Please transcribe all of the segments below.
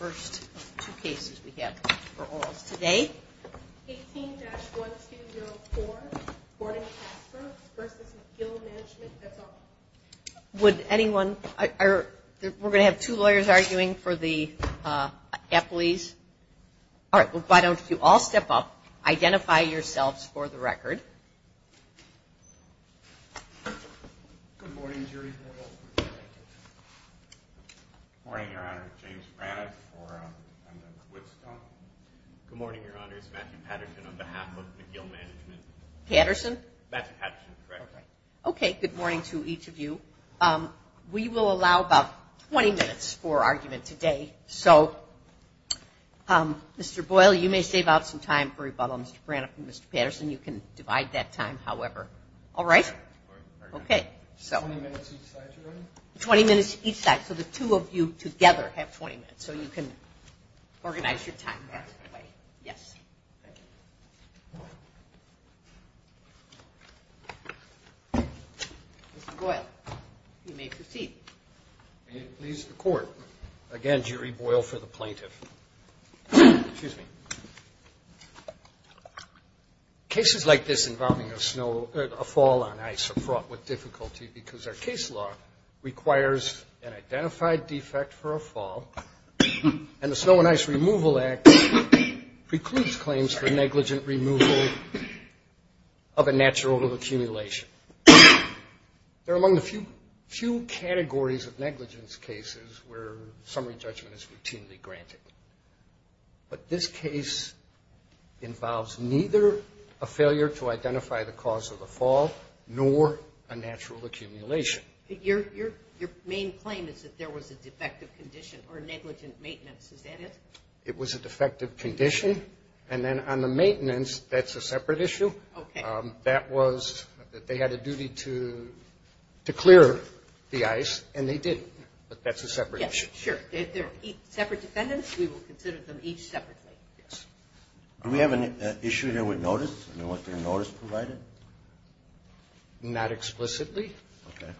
We're going to have two lawyers arguing for the Epley's. All right, why don't you all step up, identify yourselves for the record. Good morning, Your Honor, it's Matthew Patterson on behalf of McGill Management. Patterson? Matthew Patterson, correct. Okay, good morning to each of you. We will allow about 20 minutes for argument today. So Mr. Boyle, you may save out some time for rebuttal. Mr. Braniff and Mr. Patterson, you can divide that time, however. All right? All right. 20 minutes each side, Your Honor? 20 minutes each side. So the two of you together have 20 minutes. So you can organize your time that way. Yes. Thank you. Mr. Boyle, you may proceed. May it please the Court, again, jury Boyle for the plaintiff. Excuse me. Cases like this involving a snow or a fall on ice are fraught with difficulty because our case law requires an identified defect for a fall, and the Snow and Ice Removal Act precludes claims for negligent removal of a natural accumulation. They're among the few categories of negligence cases where summary judgment is routinely granted. But this case involves neither a failure to identify the cause of the fall nor a natural accumulation. Your main claim is that there was a defective condition or negligent maintenance. Is that it? It was a defective condition. And then on the maintenance, that's a separate issue. Okay. That was that they had a duty to clear the ice, and they didn't. But that's a separate issue. Yes, sure. They're separate defendants. We will consider them each separately. Yes. Do we have an issue here with notice and what the notice provided? Not explicitly. Okay.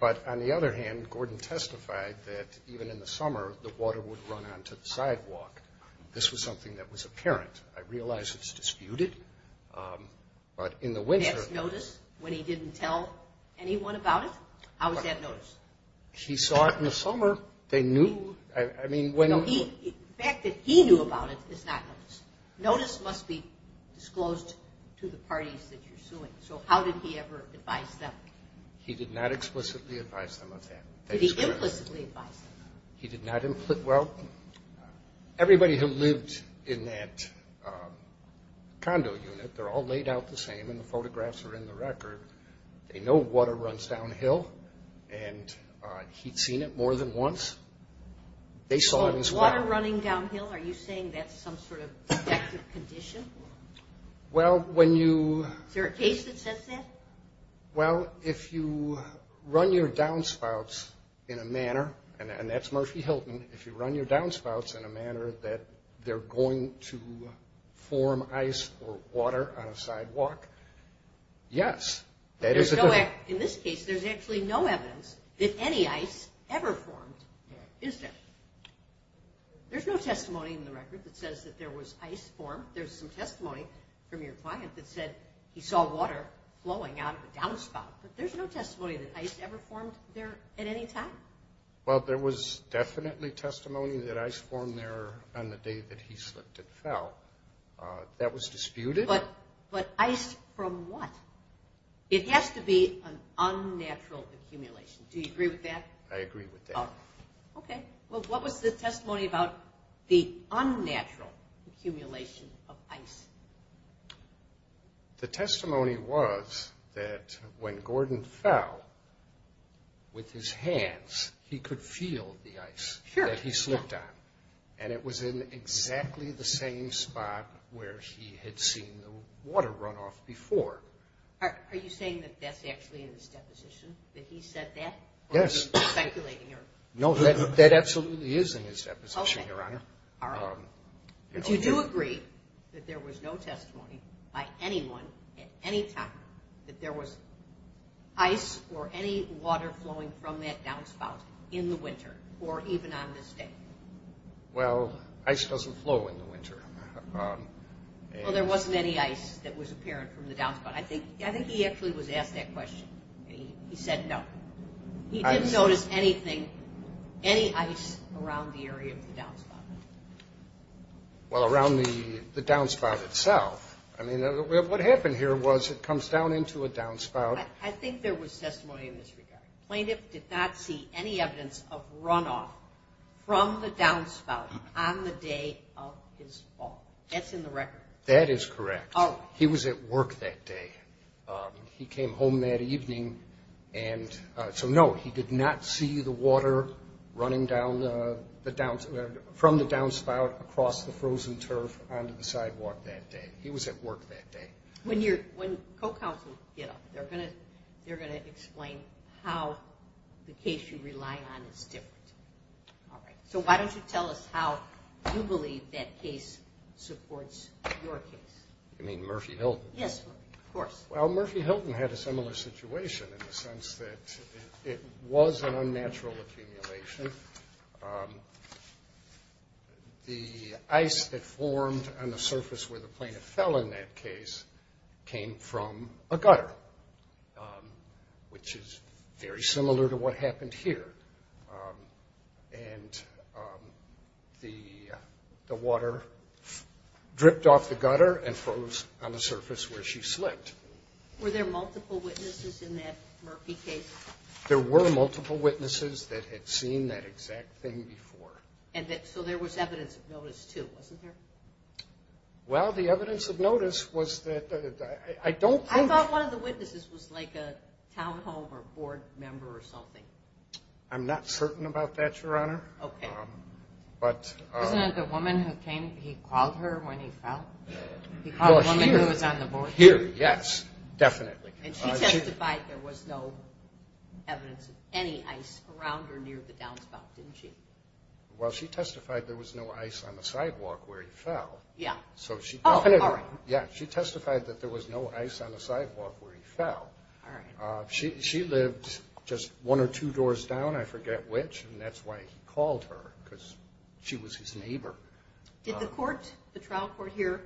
But on the other hand, Gordon testified that even in the summer, the water would run onto the sidewalk. This was something that was apparent. I realize it's disputed. But in the winter. That's notice when he didn't tell anyone about it? How is that notice? He saw it in the summer. They knew. I mean, when. The fact that he knew about it is not notice. Notice must be disclosed to the parties that you're suing. So how did he ever advise them? He did not explicitly advise them of that. Did he implicitly advise them? He did not implicitly. Well, everybody who lived in that condo unit, they're all laid out the same, and the photographs are in the record. They know water runs downhill, and he'd seen it more than once. They saw it as well. Water running downhill? Are you saying that's some sort of subjective condition? Well, when you. Is there a case that says that? Well, if you run your downspouts in a manner, and that's Murphy Hilton, if you run your downspouts in a manner that they're going to form ice or water on a sidewalk, yes. In this case, there's actually no evidence that any ice ever formed, is there? There's no testimony in the record that says that there was ice formed. There's some testimony from your client that said he saw water flowing out of a downspout, but there's no testimony that ice ever formed there at any time. Well, there was definitely testimony that ice formed there on the day that he slipped and fell. That was disputed. But ice from what? It has to be an unnatural accumulation. Do you agree with that? I agree with that. Okay. Well, what was the testimony about the unnatural accumulation of ice? The testimony was that when Gordon fell, with his hands, he could feel the ice that he slipped on, and it was in exactly the same spot where he had seen the water runoff before. Are you saying that that's actually in his deposition, that he said that? Yes. No, that absolutely is in his deposition, Your Honor. All right. But you do agree that there was no testimony by anyone at any time that there was ice or any water flowing from that downspout in the winter or even on this day? Well, ice doesn't flow in the winter. Well, there wasn't any ice that was apparent from the downspout. I think he actually was asked that question. He said no. He didn't notice anything, any ice around the area of the downspout? Well, around the downspout itself. I mean, what happened here was it comes down into a downspout. I think there was testimony in this regard. Plaintiff did not see any evidence of runoff from the downspout on the day of his fall. That's in the record. That is correct. Oh. He was at work that day. He came home that evening. And so, no, he did not see the water running down from the downspout across the frozen turf onto the sidewalk that day. He was at work that day. When co-counsels get up, they're going to explain how the case you rely on is different. All right. So why don't you tell us how you believe that case supports your case? You mean Murphy Hill? Yes, of course. Well, Murphy Hill had a similar situation in the sense that it was an unnatural accumulation. The ice that formed on the surface where the plaintiff fell in that case came from a gutter, which is very similar to what happened here. And the water dripped off the gutter and froze on the surface where she slipped. Were there multiple witnesses in that Murphy case? There were multiple witnesses that had seen that exact thing before. So there was evidence of notice, too, wasn't there? Well, the evidence of notice was that I don't think... I thought one of the witnesses was like a town hall or board member or something. I'm not certain about that, Your Honor. Okay. But... Isn't it the woman who came, he called her when he fell? He called the woman who was on the board? Here, yes, definitely. And she testified there was no evidence of any ice around her near the downspout, didn't she? Well, she testified there was no ice on the sidewalk where he fell. Yeah. Oh, all right. Yeah, she testified that there was no ice on the sidewalk where he fell. All right. She lived just one or two doors down, I forget which, and that's why he called her because she was his neighbor. Did the trial court here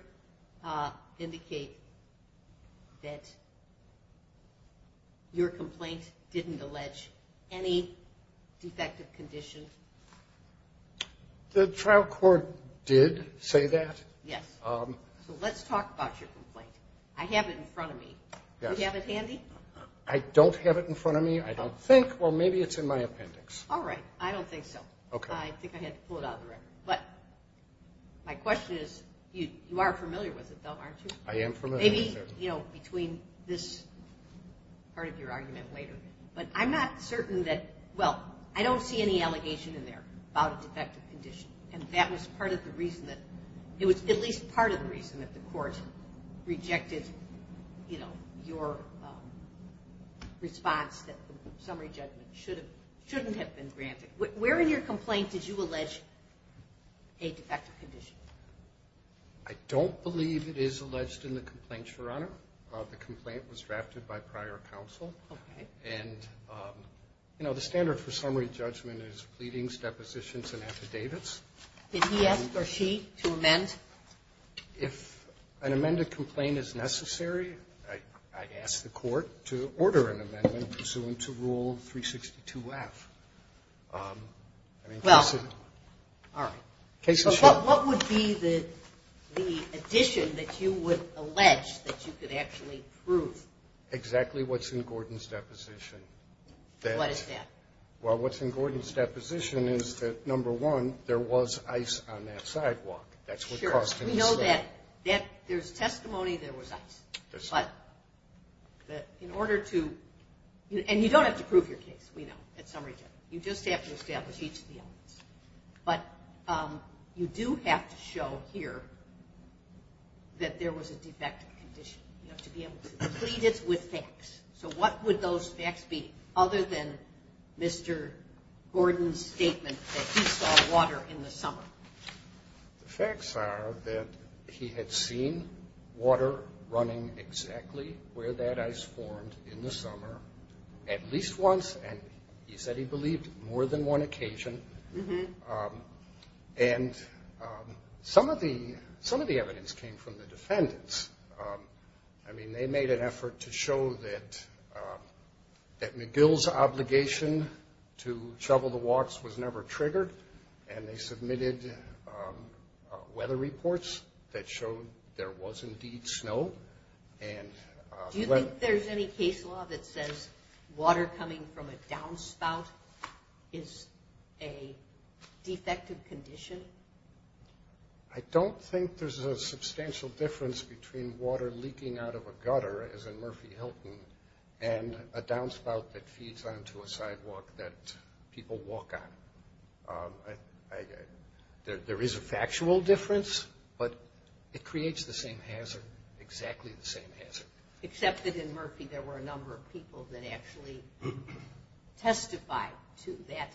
indicate that your complaint didn't allege any defective condition? The trial court did say that. Yes. So let's talk about your complaint. I have it in front of me. Yes. Do you have it handy? I don't have it in front of me, I don't think. Well, maybe it's in my appendix. All right. I don't think so. Okay. I think I had to pull it out of the record. But my question is, you are familiar with it, though, aren't you? I am familiar. Maybe, you know, between this part of your argument later. But I'm not certain that, well, I don't see any allegation in there about a defective condition, and that was part of the reason that the court rejected, you know, your response that the summary judgment shouldn't have been granted. Where in your complaint did you allege a defective condition? I don't believe it is alleged in the complaint, Your Honor. The complaint was drafted by prior counsel. Okay. And, you know, the standard for summary judgment is pleadings, depositions, and affidavits. Did he ask, or she, to amend? If an amended complaint is necessary, I ask the court to order an amendment pursuant to Rule 362-F. Well, all right. What would be the addition that you would allege that you could actually prove? Exactly what's in Gordon's deposition. What is that? Well, what's in Gordon's deposition is that, number one, there was ice on that sidewalk. That's what caused him to slip. Sure. We know that there's testimony there was ice. There's testimony. But in order to – and you don't have to prove your case, we know, at summary judgment. You just have to establish each of the elements. But you do have to show here that there was a defective condition. You have to be able to complete it with facts. So what would those facts be other than Mr. Gordon's statement that he saw water in the summer? The facts are that he had seen water running exactly where that ice formed in the summer at least once, and he said he believed more than one occasion. And some of the evidence came from the defendants. I mean, they made an effort to show that McGill's obligation to shovel the walks was never triggered, and they submitted weather reports that showed there was indeed snow. Do you think there's any case law that says water coming from a downspout is a defective condition? I don't think there's a substantial difference between water leaking out of a gutter, as in Murphy-Hilton, and a downspout that feeds onto a sidewalk that people walk on. There is a factual difference, but it creates the same hazard, exactly the same hazard. Except that in Murphy there were a number of people that actually testified to that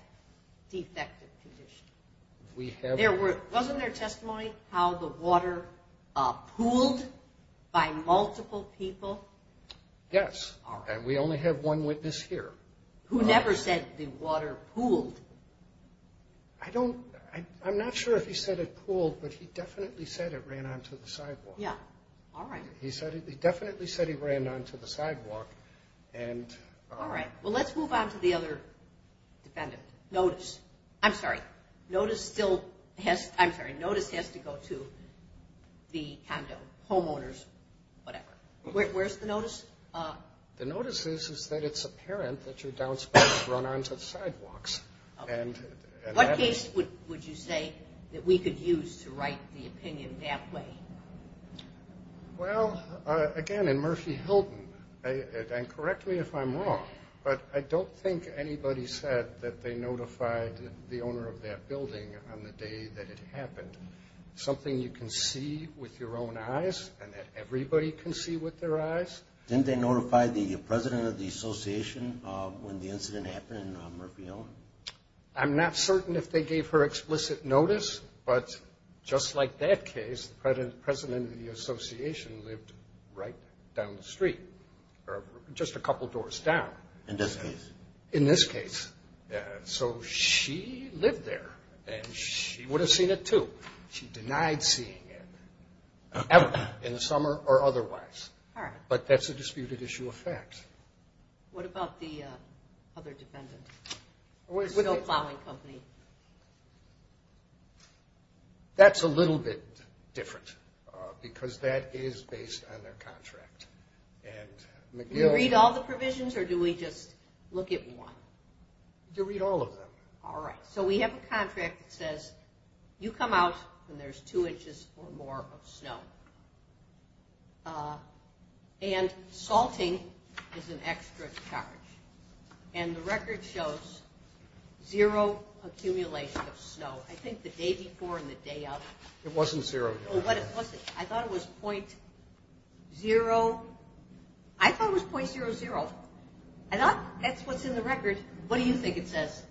defective condition. Wasn't there testimony how the water pooled by multiple people? Yes, and we only have one witness here. Who never said the water pooled? I'm not sure if he said it pooled, but he definitely said it ran onto the sidewalk. Yeah, all right. He definitely said he ran onto the sidewalk. All right, well, let's move on to the other defendant, Notice. I'm sorry, Notice has to go to the condo, homeowners, whatever. Where's the Notice? The Notice is that it's apparent that your downspout has run onto the sidewalks. What case would you say that we could use to write the opinion that way? Well, again, in Murphy-Hilton, and correct me if I'm wrong, but I don't think anybody said that they notified the owner of that building on the day that it happened. Something you can see with your own eyes and that everybody can see with their eyes. Didn't they notify the president of the association when the incident happened in Murphy-Hilton? I'm not certain if they gave her explicit notice, but just like that case the president of the association lived right down the street, or just a couple doors down. In this case? In this case. So she lived there, and she would have seen it, too. She denied seeing it, in the summer or otherwise. But that's a disputed issue of fact. What about the other defendant, the snow plowing company? That's a little bit different, because that is based on their contract. Do we read all the provisions, or do we just look at one? You read all of them. All right. So we have a contract that says you come out when there's two inches or more of snow. And salting is an extra charge, and the record shows zero accumulation of snow. I think the day before and the day of. It wasn't zero. I thought it was .00. I thought that's what's in the record. What do you think it says?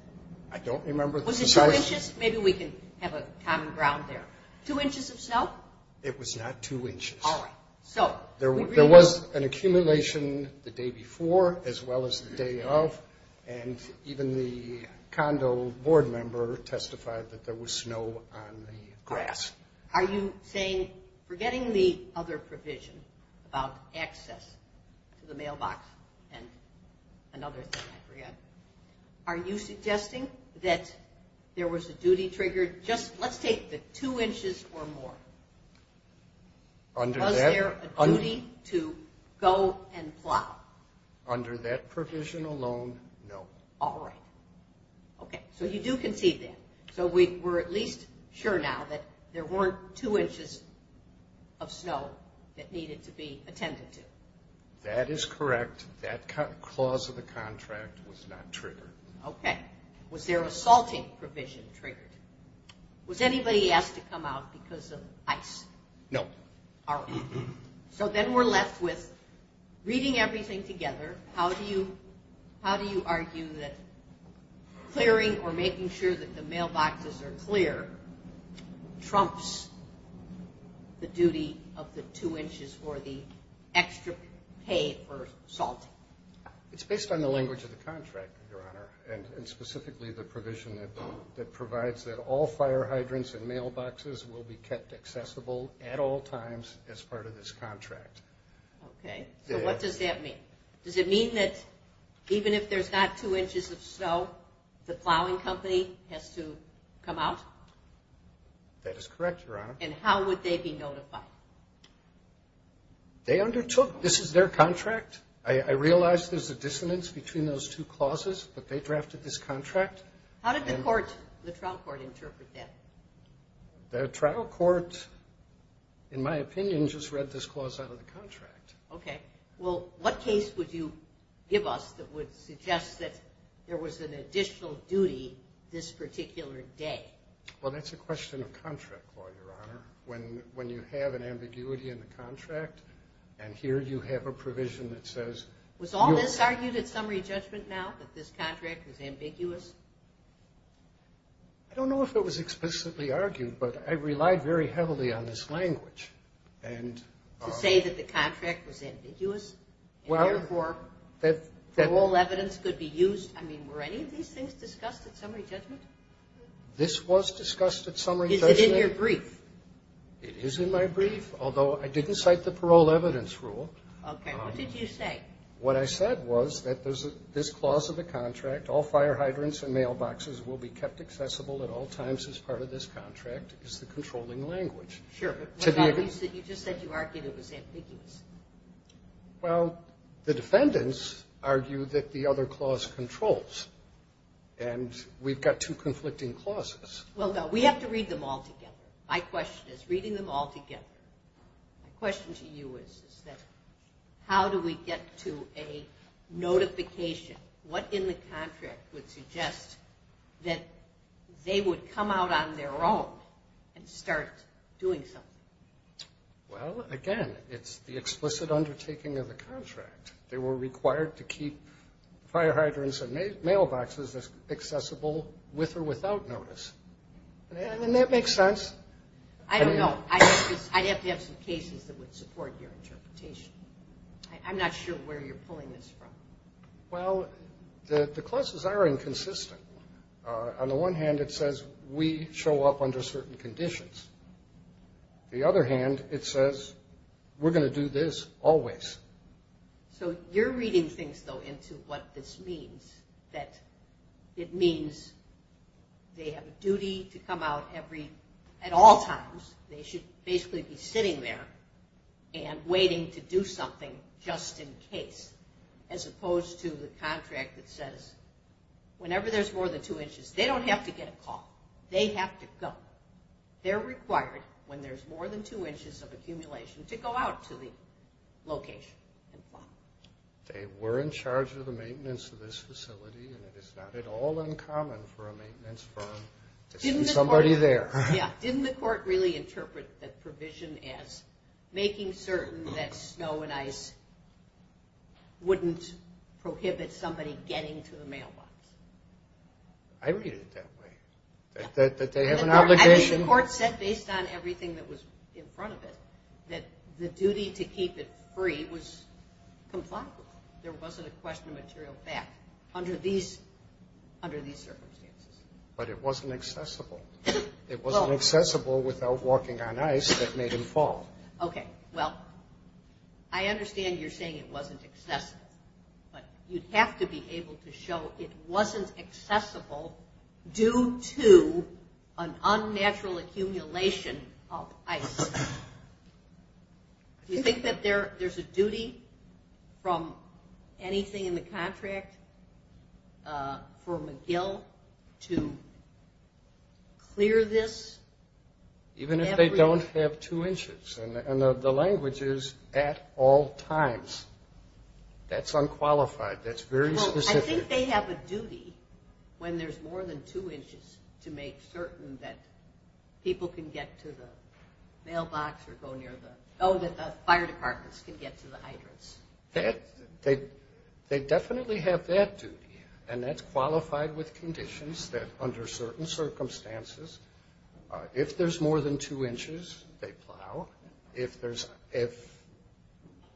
I don't remember. Was it two inches? Maybe we can have a common ground there. Two inches of snow? It was not two inches. All right. There was an accumulation the day before as well as the day of, and even the condo board member testified that there was snow on the grass. Are you saying, forgetting the other provision about access to the mailbox and another thing I forgot, are you suggesting that there was a duty triggered? Let's take the two inches or more. Was there a duty to go and plow? Under that provision alone, no. All right. Okay. So you do concede that. So we're at least sure now that there weren't two inches of snow that needed to be attended to. That is correct. That clause of the contract was not triggered. Okay. Was there a salting provision triggered? Was anybody asked to come out because of ice? No. All right. So then we're left with reading everything together. How do you argue that clearing or making sure that the mailboxes are clear trumps the duty of the two inches or the extra pay for salting? It's based on the language of the contract, Your Honor, and specifically the provision that provides that all fire hydrants and mailboxes will be kept accessible at all times as part of this contract. Okay. So what does that mean? Does it mean that even if there's not two inches of snow, the plowing company has to come out? That is correct, Your Honor. And how would they be notified? They undertook. This is their contract. I realize there's a dissonance between those two clauses, but they drafted this contract. How did the trial court interpret that? The trial court, in my opinion, just read this clause out of the contract. Okay. Well, what case would you give us that would suggest that there was an additional duty this particular day? Well, that's a question of contract law, Your Honor. When you have an ambiguity in the contract, and here you have a provision that says you're... Was all this argued at summary judgment now, that this contract was ambiguous? I don't know if it was explicitly argued, but I relied very heavily on this language. To say that the contract was ambiguous and, therefore, parole evidence could be used? I mean, were any of these things discussed at summary judgment? This was discussed at summary judgment. Is it in your brief? It is in my brief, although I didn't cite the parole evidence rule. Okay. What did you say? What I said was that this clause of the contract, all fire hydrants and mailboxes will be kept accessible at all times as part of this contract, is the controlling language. Sure, but you just said you argued it was ambiguous. Well, the defendants argue that the other clause controls, and we've got two conflicting clauses. Well, we have to read them all together. My question is, reading them all together, my question to you is, is that how do we get to a notification? What in the contract would suggest that they would come out on their own and start doing something? Well, again, it's the explicit undertaking of the contract. They were required to keep fire hydrants and mailboxes accessible with or without notice. And that makes sense. I don't know. I'd have to have some cases that would support your interpretation. I'm not sure where you're pulling this from. Well, the clauses are inconsistent. On the one hand, it says we show up under certain conditions. The other hand, it says we're going to do this always. So you're reading things, though, into what this means, that it means they have a duty to come out at all times. They should basically be sitting there and waiting to do something just in case, as opposed to the contract that says, whenever there's more than two inches, they don't have to get a call. They have to go. They're required, when there's more than two inches of accumulation, to go out to the location and file. They were in charge of the maintenance of this facility, and it is not at all uncommon for a maintenance firm to see somebody there. Yeah. Didn't the court really interpret the provision as making certain that snow and ice wouldn't prohibit somebody getting to the mailbox? I read it that way, that they have an obligation. I mean, the court said, based on everything that was in front of it, that the duty to keep it free was compliant. There wasn't a question of material fact under these circumstances. But it wasn't accessible. It wasn't accessible without walking on ice that made him fall. Okay. Well, I understand you're saying it wasn't accessible, but you'd have to be able to show it wasn't accessible due to an unnatural accumulation of ice. Do you think that there's a duty from anything in the contract for McGill to clear this? Even if they don't have two inches. And the language is, at all times. That's unqualified. That's very specific. I think they have a duty when there's more than two inches to make certain that people can get to the mailbox or go near the – oh, that the fire departments can get to the hydrants. They definitely have that duty. And that's qualified with conditions that, under certain circumstances, if there's more than two inches, they plow. If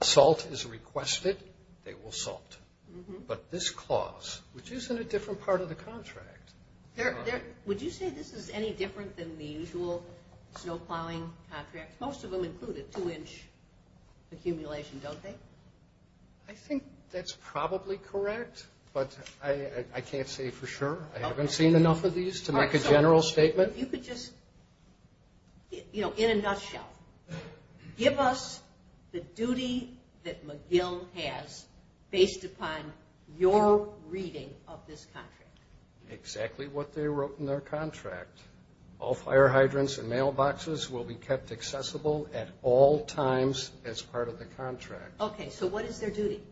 salt is requested, they will salt. But this clause, which is in a different part of the contract. Would you say this is any different than the usual snow plowing contract? Most of them include a two-inch accumulation, don't they? I think that's probably correct, but I can't say for sure. I haven't seen enough of these to make a general statement. In a nutshell, give us the duty that McGill has based upon your reading of this contract. Exactly what they wrote in their contract. All fire hydrants and mailboxes will be kept accessible at all times as part of the contract. Okay, so what is their duty?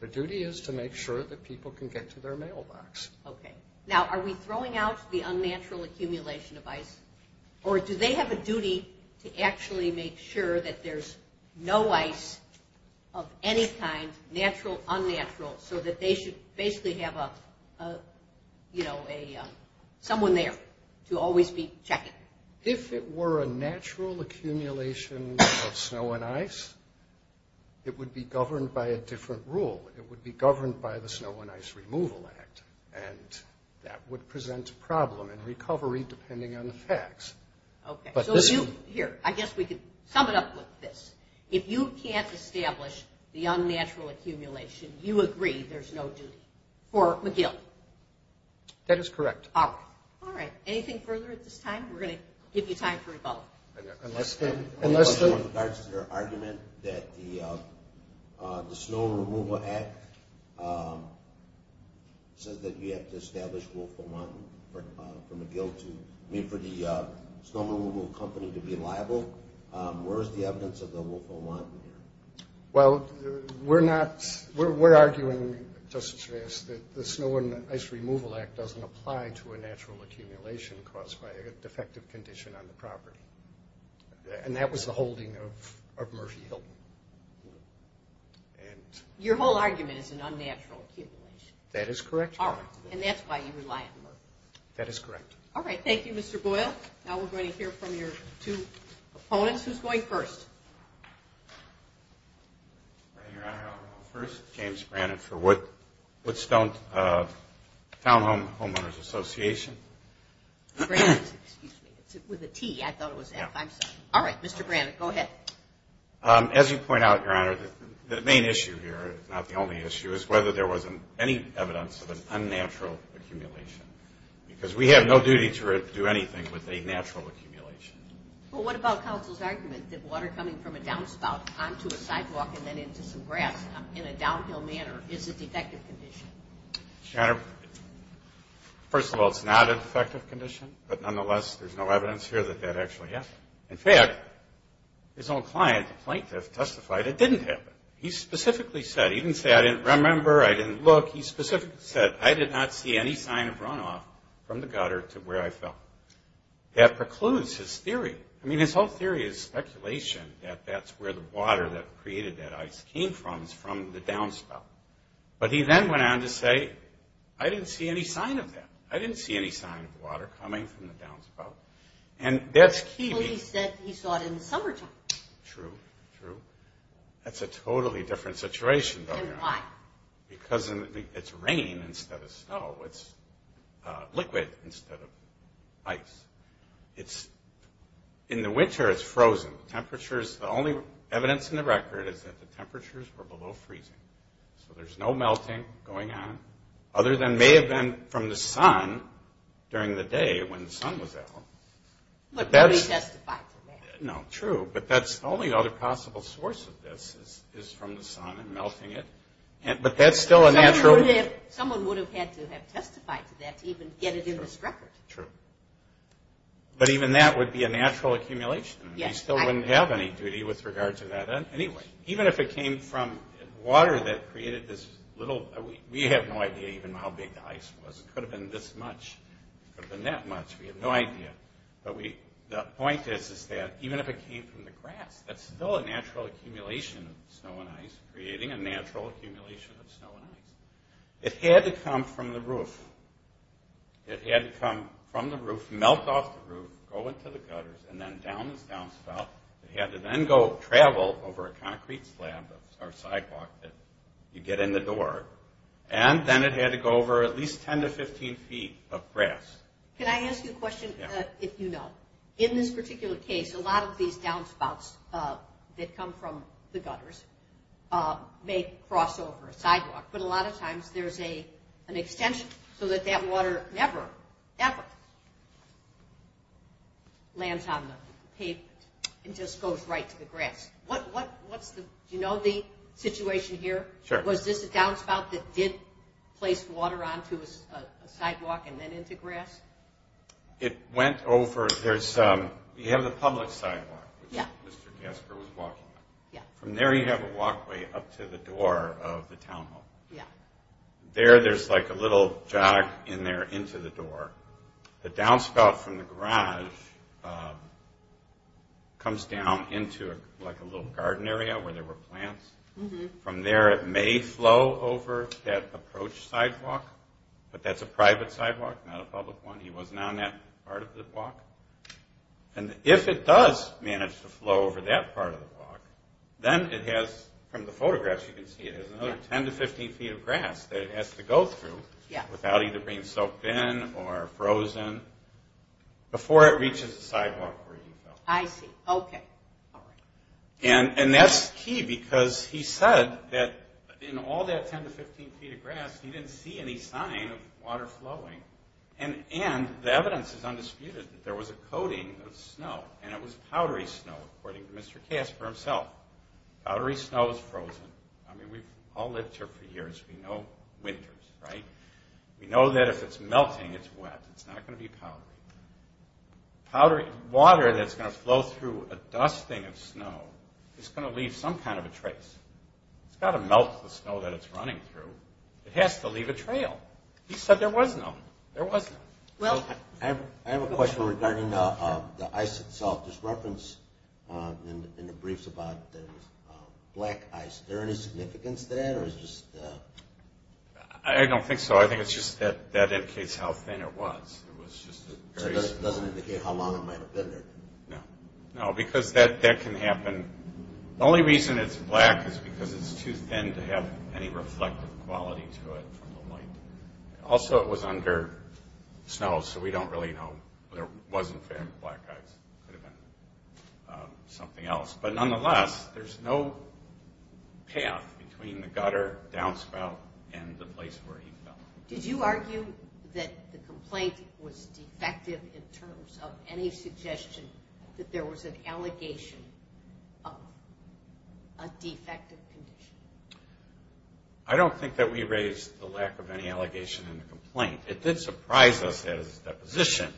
Their duty is to make sure that people can get to their mailbox. Okay. Now, are we throwing out the unnatural accumulation of ice, or do they have a duty to actually make sure that there's no ice of any kind, natural, unnatural, so that they should basically have a – you know, someone there to always be checking? If it were a natural accumulation of snow and ice, it would be governed by a different rule. It would be governed by the Snow and Ice Removal Act, and that would present a problem in recovery depending on the facts. Okay. Here, I guess we could sum it up with this. If you can't establish the unnatural accumulation, you agree there's no duty for McGill? That is correct. All right. Anything further at this time? We're going to give you time for rebuttal. In regards to their argument that the Snow and Removal Act says that you have to establish Wolfram Mountain for McGill to – I mean, for the snow removal company to be liable, where is the evidence of the Wolfram Mountain here? Well, we're arguing, Justice Reyes, that the Snow and Ice Removal Act doesn't apply to a natural accumulation caused by a defective condition on the property, and that was the holding of Murphy Hill. Your whole argument is an unnatural accumulation? That is correct, Your Honor. And that's why you rely on Murphy? That is correct. All right. Thank you, Mr. Boyle. Now we're going to hear from your two opponents. Who's going first? Your Honor, I'll go first. James Brannan for Woodstone Townhome Homeowners Association. Brannan, excuse me. With a T, I thought it was F. I'm sorry. All right, Mr. Brannan, go ahead. As you point out, Your Honor, the main issue here, not the only issue, is whether there was any evidence of an unnatural accumulation, because we have no duty to do anything with a natural accumulation. Well, what about counsel's argument that water coming from a downspout onto a sidewalk and then into some grass in a downhill manner is a defective condition? Your Honor, first of all, it's not a defective condition, but nonetheless there's no evidence here that that actually happened. In fact, his own client, the plaintiff, testified it didn't happen. He specifically said, he didn't say, I didn't remember, I didn't look. He specifically said, I did not see any sign of runoff from the gutter to where I fell. That precludes his theory. I mean, his whole theory is speculation, that that's where the water that created that ice came from is from the downspout. But he then went on to say, I didn't see any sign of that. I didn't see any sign of water coming from the downspout. And that's key. Well, he said he saw it in the summertime. True, true. That's a totally different situation, though, Your Honor. And why? Because it's rain instead of snow. It's liquid instead of ice. In the winter it's frozen. The only evidence in the record is that the temperatures were below freezing. So there's no melting going on, other than it may have been from the sun during the day when the sun was out. But nobody testified to that. No, true. But the only other possible source of this is from the sun and melting it. But that's still a natural – Someone would have had to have testified to that to even get it in this record. True. But even that would be a natural accumulation. We still wouldn't have any duty with regard to that anyway. Even if it came from water that created this little – we have no idea even how big the ice was. It could have been this much. It could have been that much. We have no idea. But the point is that even if it came from the grass, that's still a natural accumulation of snow and ice, creating a natural accumulation of snow and ice. It had to come from the roof. It had to come from the roof, melt off the roof, go into the gutters, and then down this downspout. It had to then go travel over a concrete slab or sidewalk that you get in the door. And then it had to go over at least 10 to 15 feet of grass. Can I ask you a question? Yeah. If you know. In this particular case, a lot of these downspouts that come from the gutters may cross over a sidewalk. But a lot of times there's an extension so that that water never, ever lands on the pavement. It just goes right to the grass. Do you know the situation here? Sure. Was this a downspout that did place water onto a sidewalk and then into grass? It went over. You have the public sidewalk, which Mr. Casper was walking on. Yeah. From there you have a walkway up to the door of the town hall. Yeah. There there's like a little jog in there into the door. The downspout from the garage comes down into like a little garden area where there were plants. From there it may flow over that approach sidewalk, but that's a private sidewalk, not a public one. He wasn't on that part of the block. If it does manage to flow over that part of the block, then it has from the photographs you can see it has another 10 to 15 feet of grass that it has to go through without either being soaked in or frozen before it reaches the sidewalk where he fell. I see. Okay. That's key because he said that in all that 10 to 15 feet of grass, he didn't see any sign of water flowing. And the evidence is undisputed that there was a coating of snow, and it was powdery snow, according to Mr. Casper himself. Powdery snow is frozen. I mean, we've all lived here for years. We know winters, right? We know that if it's melting, it's wet. It's not going to be powdery. Powdery water that's going to flow through a dusting of snow is going to leave some kind of a trace. It has to leave a trail. He said there was none. There was none. I have a question regarding the ice itself. There's reference in the briefs about black ice. Is there any significance to that? I don't think so. I think it's just that that indicates how thin it was. It doesn't indicate how long it might have been there. No, because that can happen. The only reason it's black is because it's too thin to have any reflective quality to it from the light. Also, it was under snow, so we don't really know. There wasn't family black ice. It could have been something else. But nonetheless, there's no path between the gutter, downspout, and the place where he fell. Did you argue that the complaint was defective in terms of any suggestion that there was an allegation of a defective condition? I don't think that we raised the lack of any allegation in the complaint. It did surprise us as a deposition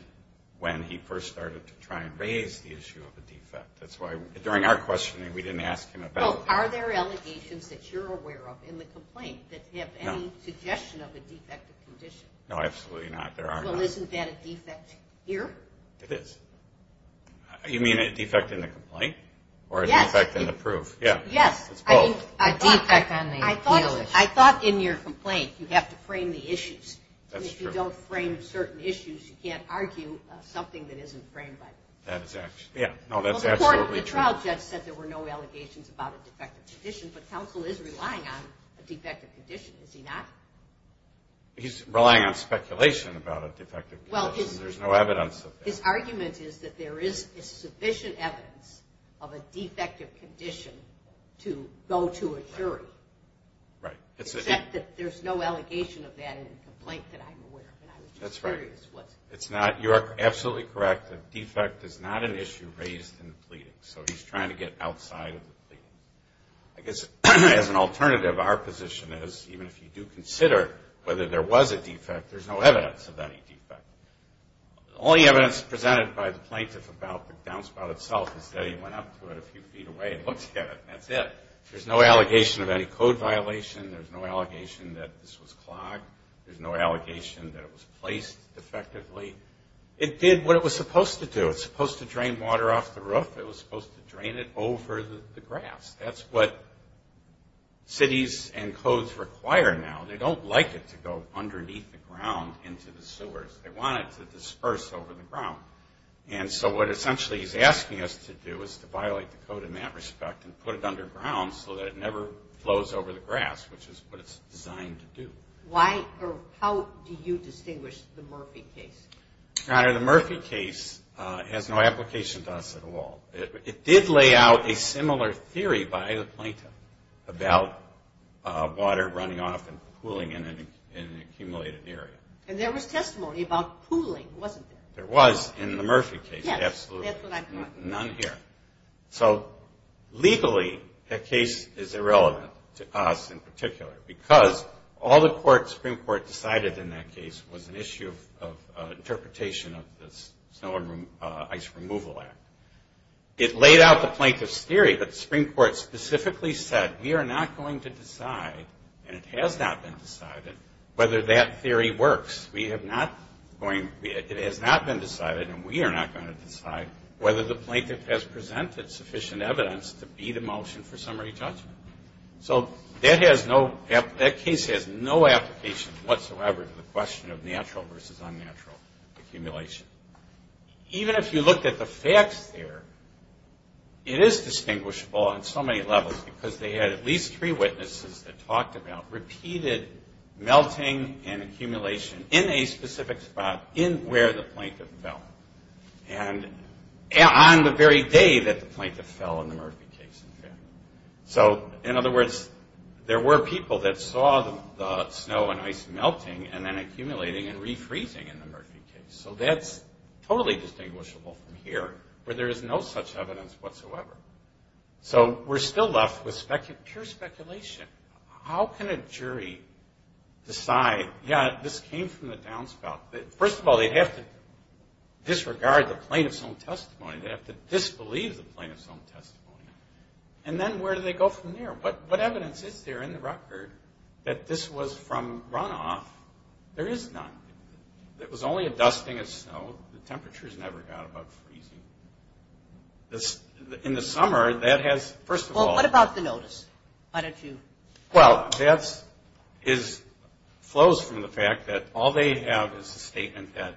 when he first started to try and raise the issue of a defect. That's why during our questioning we didn't ask him about it. Well, are there allegations that you're aware of in the complaint that have any suggestion of a defective condition? No, absolutely not. There are not. Well, isn't that a defect here? It is. You mean a defect in the complaint or a defect in the proof? Yes. It's both. A defect on the appeal issue. I thought in your complaint you have to frame the issues. That's true. And if you don't frame certain issues, you can't argue something that isn't framed by the court. Yeah. No, that's absolutely true. The trial judge said there were no allegations about a defective condition, but counsel is relying on a defective condition, is he not? He's relying on speculation about a defective condition. There's no evidence of that. His argument is that there is sufficient evidence of a defective condition to go to a jury. Right. Except that there's no allegation of that in the complaint that I'm aware of, and I was just curious what. That's right. You are absolutely correct. A defect is not an issue raised in the pleading, so he's trying to get outside of the pleading. I guess as an alternative, our position is, even if you do consider whether there was a defect, there's no evidence of any defect. All the evidence presented by the plaintiff about the downspout itself is that he went up to it a few feet away and looked at it, and that's it. There's no allegation of any code violation. There's no allegation that this was clogged. There's no allegation that it was placed defectively. It did what it was supposed to do. It was supposed to drain water off the roof. It was supposed to drain it over the grass. That's what cities and codes require now. They don't like it to go underneath the ground into the sewers. They want it to disperse over the ground. So what essentially he's asking us to do is to violate the code in that respect and put it underground so that it never flows over the grass, which is what it's designed to do. How do you distinguish the Murphy case? Your Honor, the Murphy case has no application to us at all. It did lay out a similar theory by the plaintiff about water running off and pooling in an accumulated area. And there was testimony about pooling, wasn't there? There was in the Murphy case, absolutely. Yes, that's what I'm talking about. None here. So legally that case is irrelevant to us in particular because all the Supreme Court decided in that case was an issue of interpretation of the Snow and Ice Removal Act. It laid out the plaintiff's theory, but the Supreme Court specifically said we are not going to decide, and it has not been decided, whether that theory works. It has not been decided and we are not going to decide whether the plaintiff has presented sufficient evidence to beat a motion for summary judgment. So that case has no application whatsoever to the question of natural versus unnatural accumulation. Even if you looked at the facts there, it is distinguishable on so many levels because they had at least three witnesses that talked about repeated melting and accumulation in a specific spot in where the plaintiff fell. And on the very day that the plaintiff fell in the Murphy case, in fact. So, in other words, there were people that saw the snow and ice melting and then accumulating and refreezing in the Murphy case. So that's totally distinguishable from here where there is no such evidence whatsoever. So we're still left with pure speculation. How can a jury decide, yeah, this came from the downspout. First of all, they'd have to disregard the plaintiff's own testimony. They'd have to disbelieve the plaintiff's own testimony. And then where do they go from there? What evidence is there in the record that this was from runoff? There is none. It was only a dusting of snow. The temperatures never got above freezing. In the summer, that has, first of all. Well, what about the notice? Well, that flows from the fact that all they have is a statement that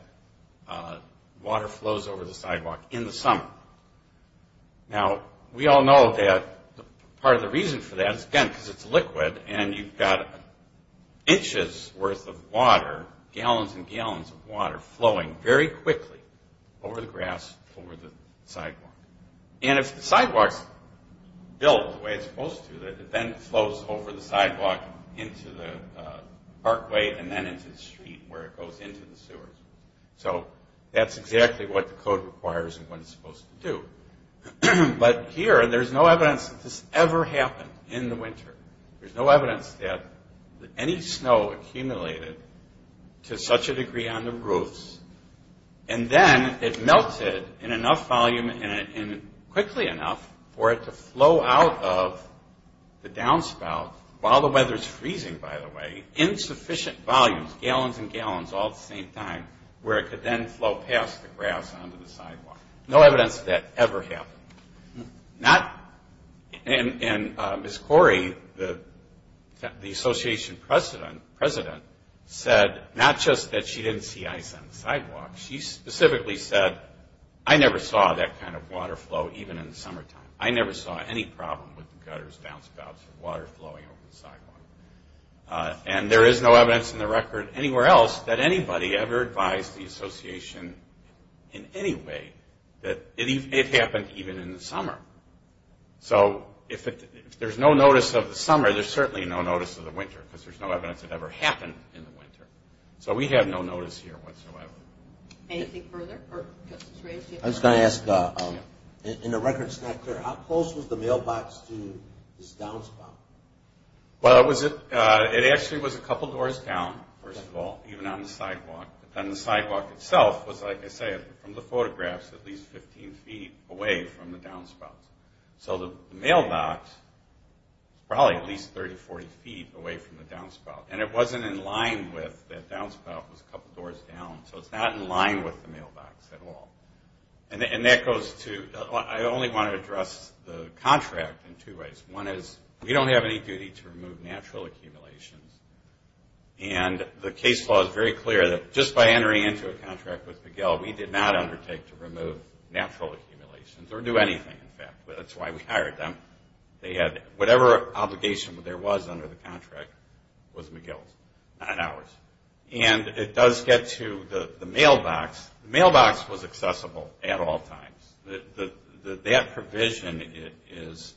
water flows over the sidewalk in the summer. Now, we all know that part of the reason for that is, again, because it's liquid, and you've got inches worth of water, gallons and gallons of water, flowing very quickly over the grass, over the sidewalk. And if the sidewalk's built the way it's supposed to, then it flows over the sidewalk into the parkway and then into the street where it goes into the sewers. So that's exactly what the code requires and what it's supposed to do. But here, there's no evidence that this ever happened in the winter. There's no evidence that any snow accumulated to such a degree on the roofs, and then it melted in enough volume and quickly enough for it to flow out of the downspout, while the weather's freezing, by the way, in sufficient volumes, gallons and gallons all at the same time, where it could then flow past the grass onto the sidewalk. No evidence that that ever happened. And Ms. Corey, the association president, said not just that she didn't see ice on the sidewalk. She specifically said, I never saw that kind of water flow even in the summertime. I never saw any problem with the gutters, downspouts, or water flowing over the sidewalk. And there is no evidence in the record anywhere else that anybody ever advised the association in any way that it happened even in the summer. So if there's no notice of the summer, there's certainly no notice of the winter, because there's no evidence it ever happened in the winter. So we have no notice here whatsoever. Anything further? I was going to ask, in the record that's not clear, how close was the mailbox to this downspout? Well, it actually was a couple doors down, first of all, even on the sidewalk. But then the sidewalk itself was, like I said, from the photographs, at least 15 feet away from the downspout. So the mailbox, probably at least 30, 40 feet away from the downspout. And it wasn't in line with that downspout was a couple doors down. So it's not in line with the mailbox at all. And that goes to, I only want to address the contract in two ways. One is, we don't have any duty to remove natural accumulations. And the case law is very clear that just by entering into a contract with McGill, we did not undertake to remove natural accumulations or do anything, in fact. That's why we hired them. Whatever obligation there was under the contract was McGill's, not ours. And it does get to the mailbox. The mailbox was accessible at all times. That provision is,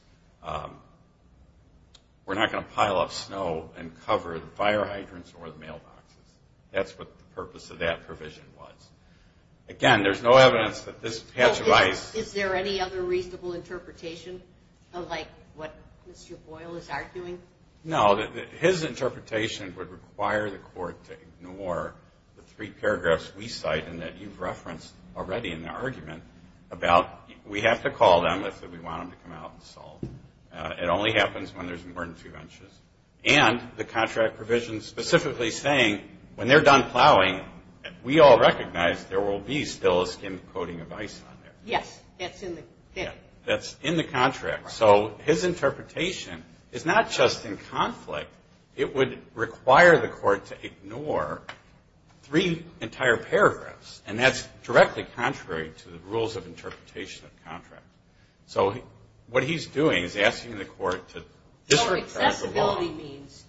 we're not going to pile up snow and cover the fire hydrants or the mailboxes. That's what the purpose of that provision was. Again, there's no evidence that this patch of ice. Is there any other reasonable interpretation of what Mr. Boyle is arguing? No. His interpretation would require the court to ignore the three paragraphs we cite and that you've referenced already in the argument about, we have to call them if we want them to come out and solve them. It only happens when there's more than two inches. And the contract provision specifically saying when they're done plowing, we all recognize there will be still a skim coating of ice on there. Yes. That's in the contract. So his interpretation is not just in conflict. It would require the court to ignore three entire paragraphs, and that's directly contrary to the rules of interpretation of the contract. So what he's doing is asking the court to disregard the law. So accessibility means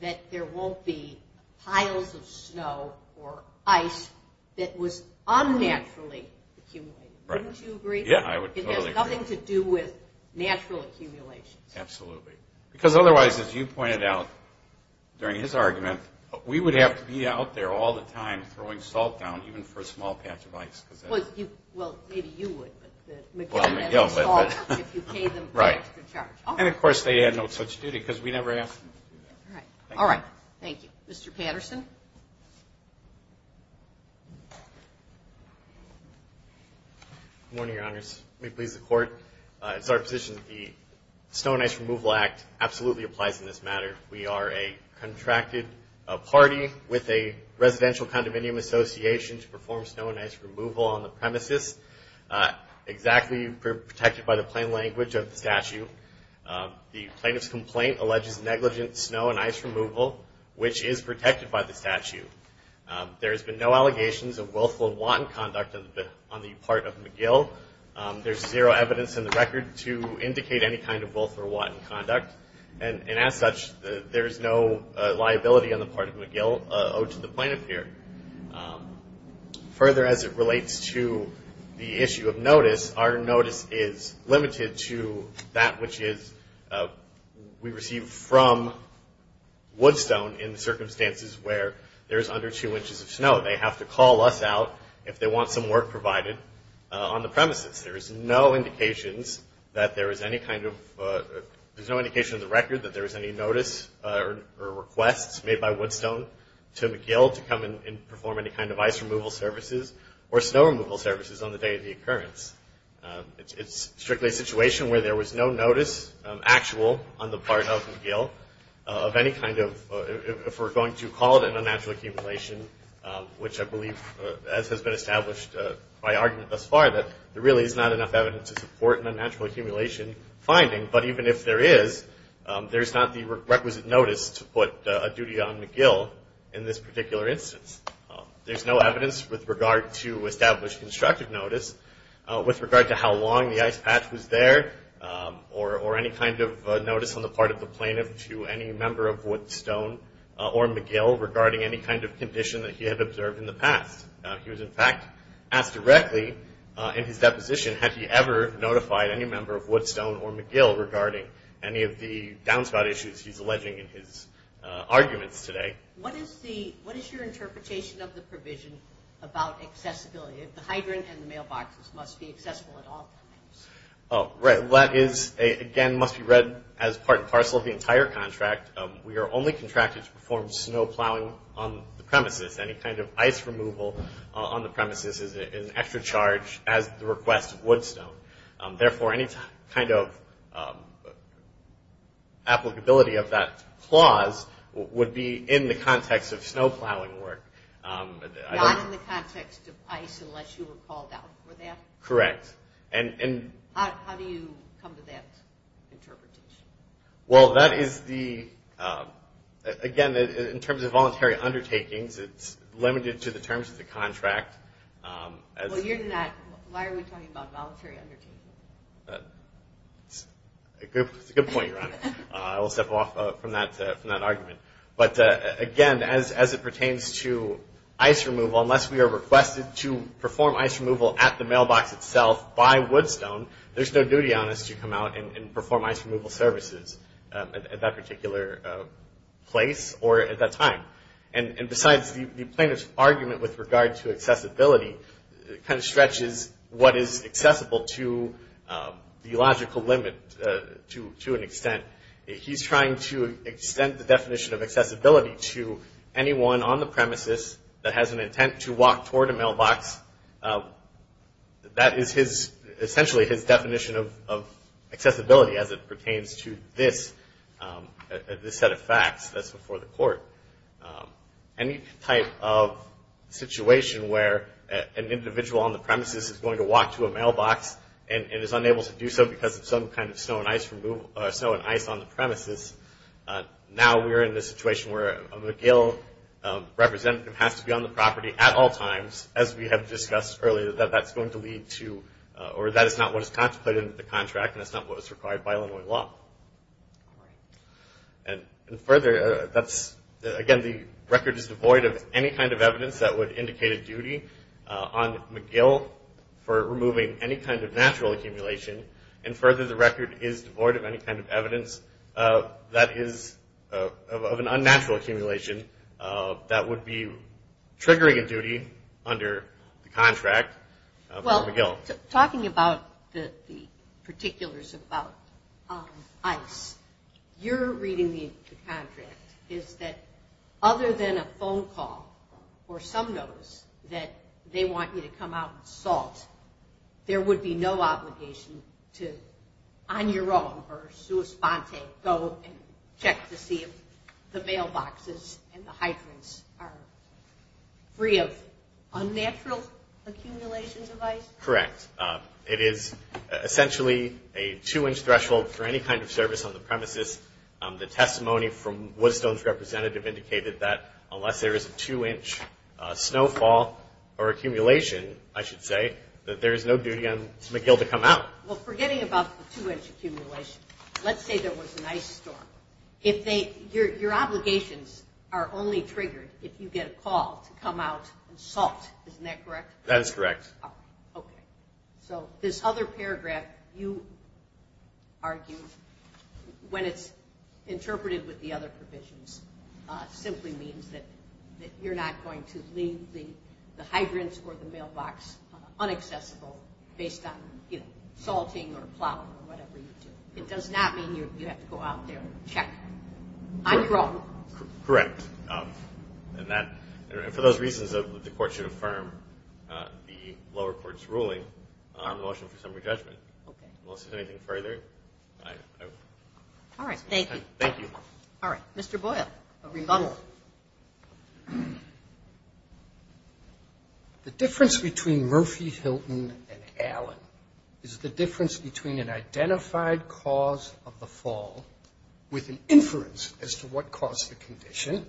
that there won't be piles of snow or ice that was unnaturally accumulated. Wouldn't you agree? Yeah, I would totally agree. It has nothing to do with natural accumulations. Absolutely. Because otherwise, as you pointed out during his argument, we would have to be out there all the time throwing salt down, even for a small patch of ice. Well, maybe you would. Well, McGill would. If you paid them an extra charge. And, of course, they had no such duty because we never asked them to do that. All right. Thank you. Mr. Patterson. Good morning, Your Honors. May it please the Court. It's our position that the Snow and Ice Removal Act absolutely applies in this matter. We are a contracted party with a residential condominium association to perform snow and ice removal on the premises, exactly protected by the plain language of the statute. The plaintiff's complaint alleges negligent snow and ice removal, which is protected by the statute. There has been no allegations of willful and wanton conduct on the part of McGill. There is zero evidence in the record to indicate any kind of willful or wanton conduct. And as such, there is no liability on the part of McGill owed to the plaintiff here. Further, as it relates to the issue of notice, our notice is limited to that which we receive from Woodstone in circumstances where there is under two inches of snow. They have to call us out if they want some work provided on the premises. There is no indication in the record that there is any notice or request made by Woodstone to McGill to come and perform any kind of ice removal services or snow removal services on the day of the occurrence. It's strictly a situation where there was no notice actual on the part of McGill of any kind of, if we're going to call it an unnatural accumulation, which I believe, as has been established by argument thus far, that there really is not enough evidence to support an unnatural accumulation finding. But even if there is, there's not the requisite notice to put a duty on McGill in this particular instance. There's no evidence with regard to established constructive notice with regard to how long the ice patch was there or any kind of notice on the part of the plaintiff to any member of Woodstone or McGill regarding any kind of condition that he had observed in the past. He was, in fact, asked directly in his deposition, had he ever notified any member of Woodstone or McGill regarding any of the downspout issues he's alleging in his arguments today. What is your interpretation of the provision about accessibility? The hydrant and the mailboxes must be accessible at all times. Right. That is, again, must be read as part and parcel of the entire contract. We are only contracted to perform snow plowing on the premises. Any kind of ice removal on the premises is an extra charge as the request of Woodstone. Therefore, any kind of applicability of that clause would be in the context of snow plowing work. Not in the context of ice unless you were called out for that? Correct. How do you come to that interpretation? Well, that is the, again, in terms of voluntary undertakings, it's limited to the terms of the contract. Well, you're not, why are we talking about voluntary undertakings? It's a good point, Your Honor. I will step off from that argument. But again, as it pertains to ice removal, unless we are requested to perform ice removal at the mailbox itself by Woodstone, there's no duty on us to come out and perform ice removal services at that particular place or at that time. And besides, the plaintiff's argument with regard to accessibility kind of stretches what is accessible to the logical limit to an extent. He's trying to extend the definition of accessibility to anyone on the premises that has an intent to walk toward a mailbox. That is essentially his definition of accessibility as it pertains to this set of facts that's before the court. Any type of situation where an individual on the premises is going to walk to a mailbox and is unable to do so because of some kind of snow and ice on the premises, now we're in the situation where a McGill representative has to be on the property at all times, as we have discussed earlier, that that's going to lead to, or that is not what is contemplated in the contract and that's not what is required by Illinois law. And further, that's, again, the record is devoid of any kind of evidence that would indicate a duty on McGill for removing any kind of natural accumulation. And further, the record is devoid of any kind of evidence that is of an unnatural accumulation that would be triggering a duty under the contract of McGill. Well, talking about the particulars about ice, you're reading the contract is that other than a phone call or some notice that they want you to come out and salt, there would be no obligation to, on your own, or sua sponte, go and check to see if the mailboxes and the hydrants are free of unnatural accumulations of ice? Correct. It is essentially a two-inch threshold for any kind of service on the premises. The testimony from Woodstone's representative indicated that unless there is a two-inch snowfall or accumulation, I should say, that there is no duty on McGill to come out. Well, forgetting about the two-inch accumulation, let's say there was an ice storm. Your obligations are only triggered if you get a call to come out and salt. Isn't that correct? That is correct. Okay. So this other paragraph, you argue, when it's interpreted with the other provisions, simply means that you're not going to leave the hydrants or the mailbox unaccessible based on salting or plowing or whatever you do. It does not mean you have to go out there and check on your own. Correct. And for those reasons, the court should affirm the lower court's ruling on the motion for summary judgment. Okay. Unless there's anything further, I will. All right. Thank you. Thank you. All right. Mr. Boyle, a rebuttal. The difference between Murphy, Hilton, and Allen is the difference between an identified cause of the fall with an inference as to what caused the condition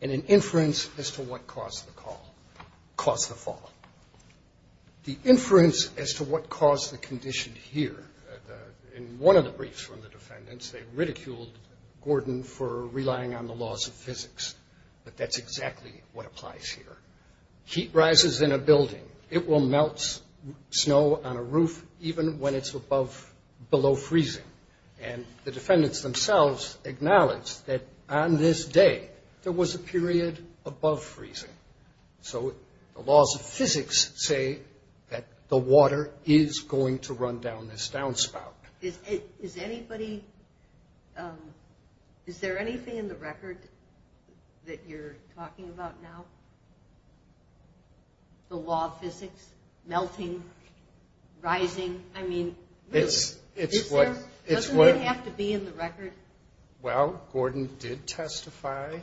and an inference as to what caused the fall. The inference as to what caused the condition here, in one of the briefs from the defendants, they ridiculed Gordon for relying on the laws of physics. But that's exactly what applies here. Heat rises in a building. It will melt snow on a roof even when it's below freezing. And the defendants themselves acknowledged that on this day there was a period above freezing. So the laws of physics say that the water is going to run down this downspout. Is there anything in the record that you're talking about now, the law of physics, melting, rising? I mean, really, is there? Doesn't it have to be in the record? Well, Gordon did testify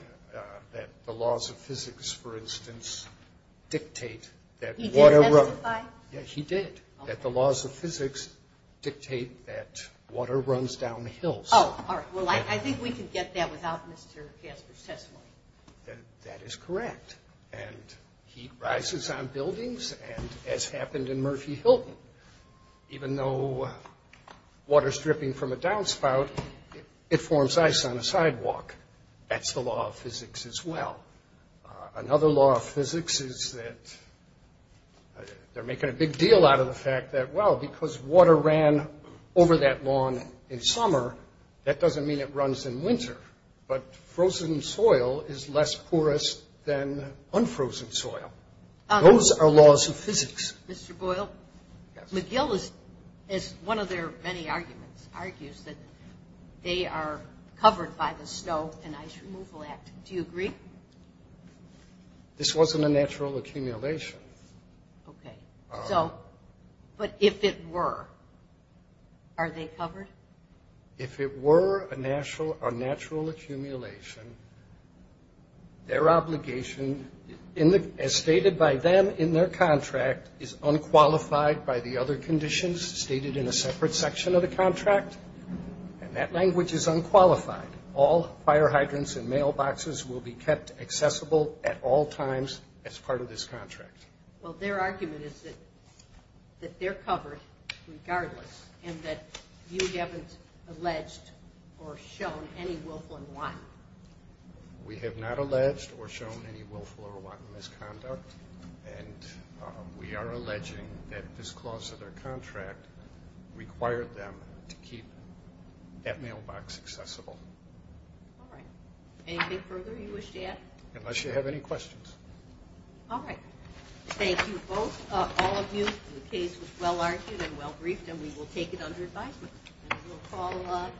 that the laws of physics, for instance, dictate that water runs. He did testify? Yes, he did, that the laws of physics dictate that water runs down hills. Oh, all right. Well, I think we can get that without Mr. Kasper's testimony. That is correct. And heat rises on buildings, as happened in Murphy-Hilton. Even though water's dripping from a downspout, it forms ice on a sidewalk. That's the law of physics as well. Another law of physics is that they're making a big deal out of the fact that, well, because water ran over that lawn in summer, that doesn't mean it runs in winter. But frozen soil is less porous than unfrozen soil. Those are laws of physics. Mr. Boyle? Yes. McGill, as one of their many arguments, argues that they are covered by the Snow and Ice Removal Act. Do you agree? This wasn't a natural accumulation. Okay. So, but if it were, are they covered? If it were a natural accumulation, their obligation, as stated by them in their contract, is unqualified by the other conditions stated in a separate section of the contract. And that language is unqualified. All fire hydrants and mailboxes will be kept accessible at all times as part of this contract. Well, their argument is that they're covered regardless and that you haven't alleged or shown any willful or wanton misconduct. We have not alleged or shown any willful or wanton misconduct, and we are alleging that this clause of their contract required them to keep that mailbox accessible. All right. Anything further you wish to add? Unless you have any questions. All right. Thank you both, all of you. The case was well-argued and well-briefed, and we will take it under advisement. And we'll call on.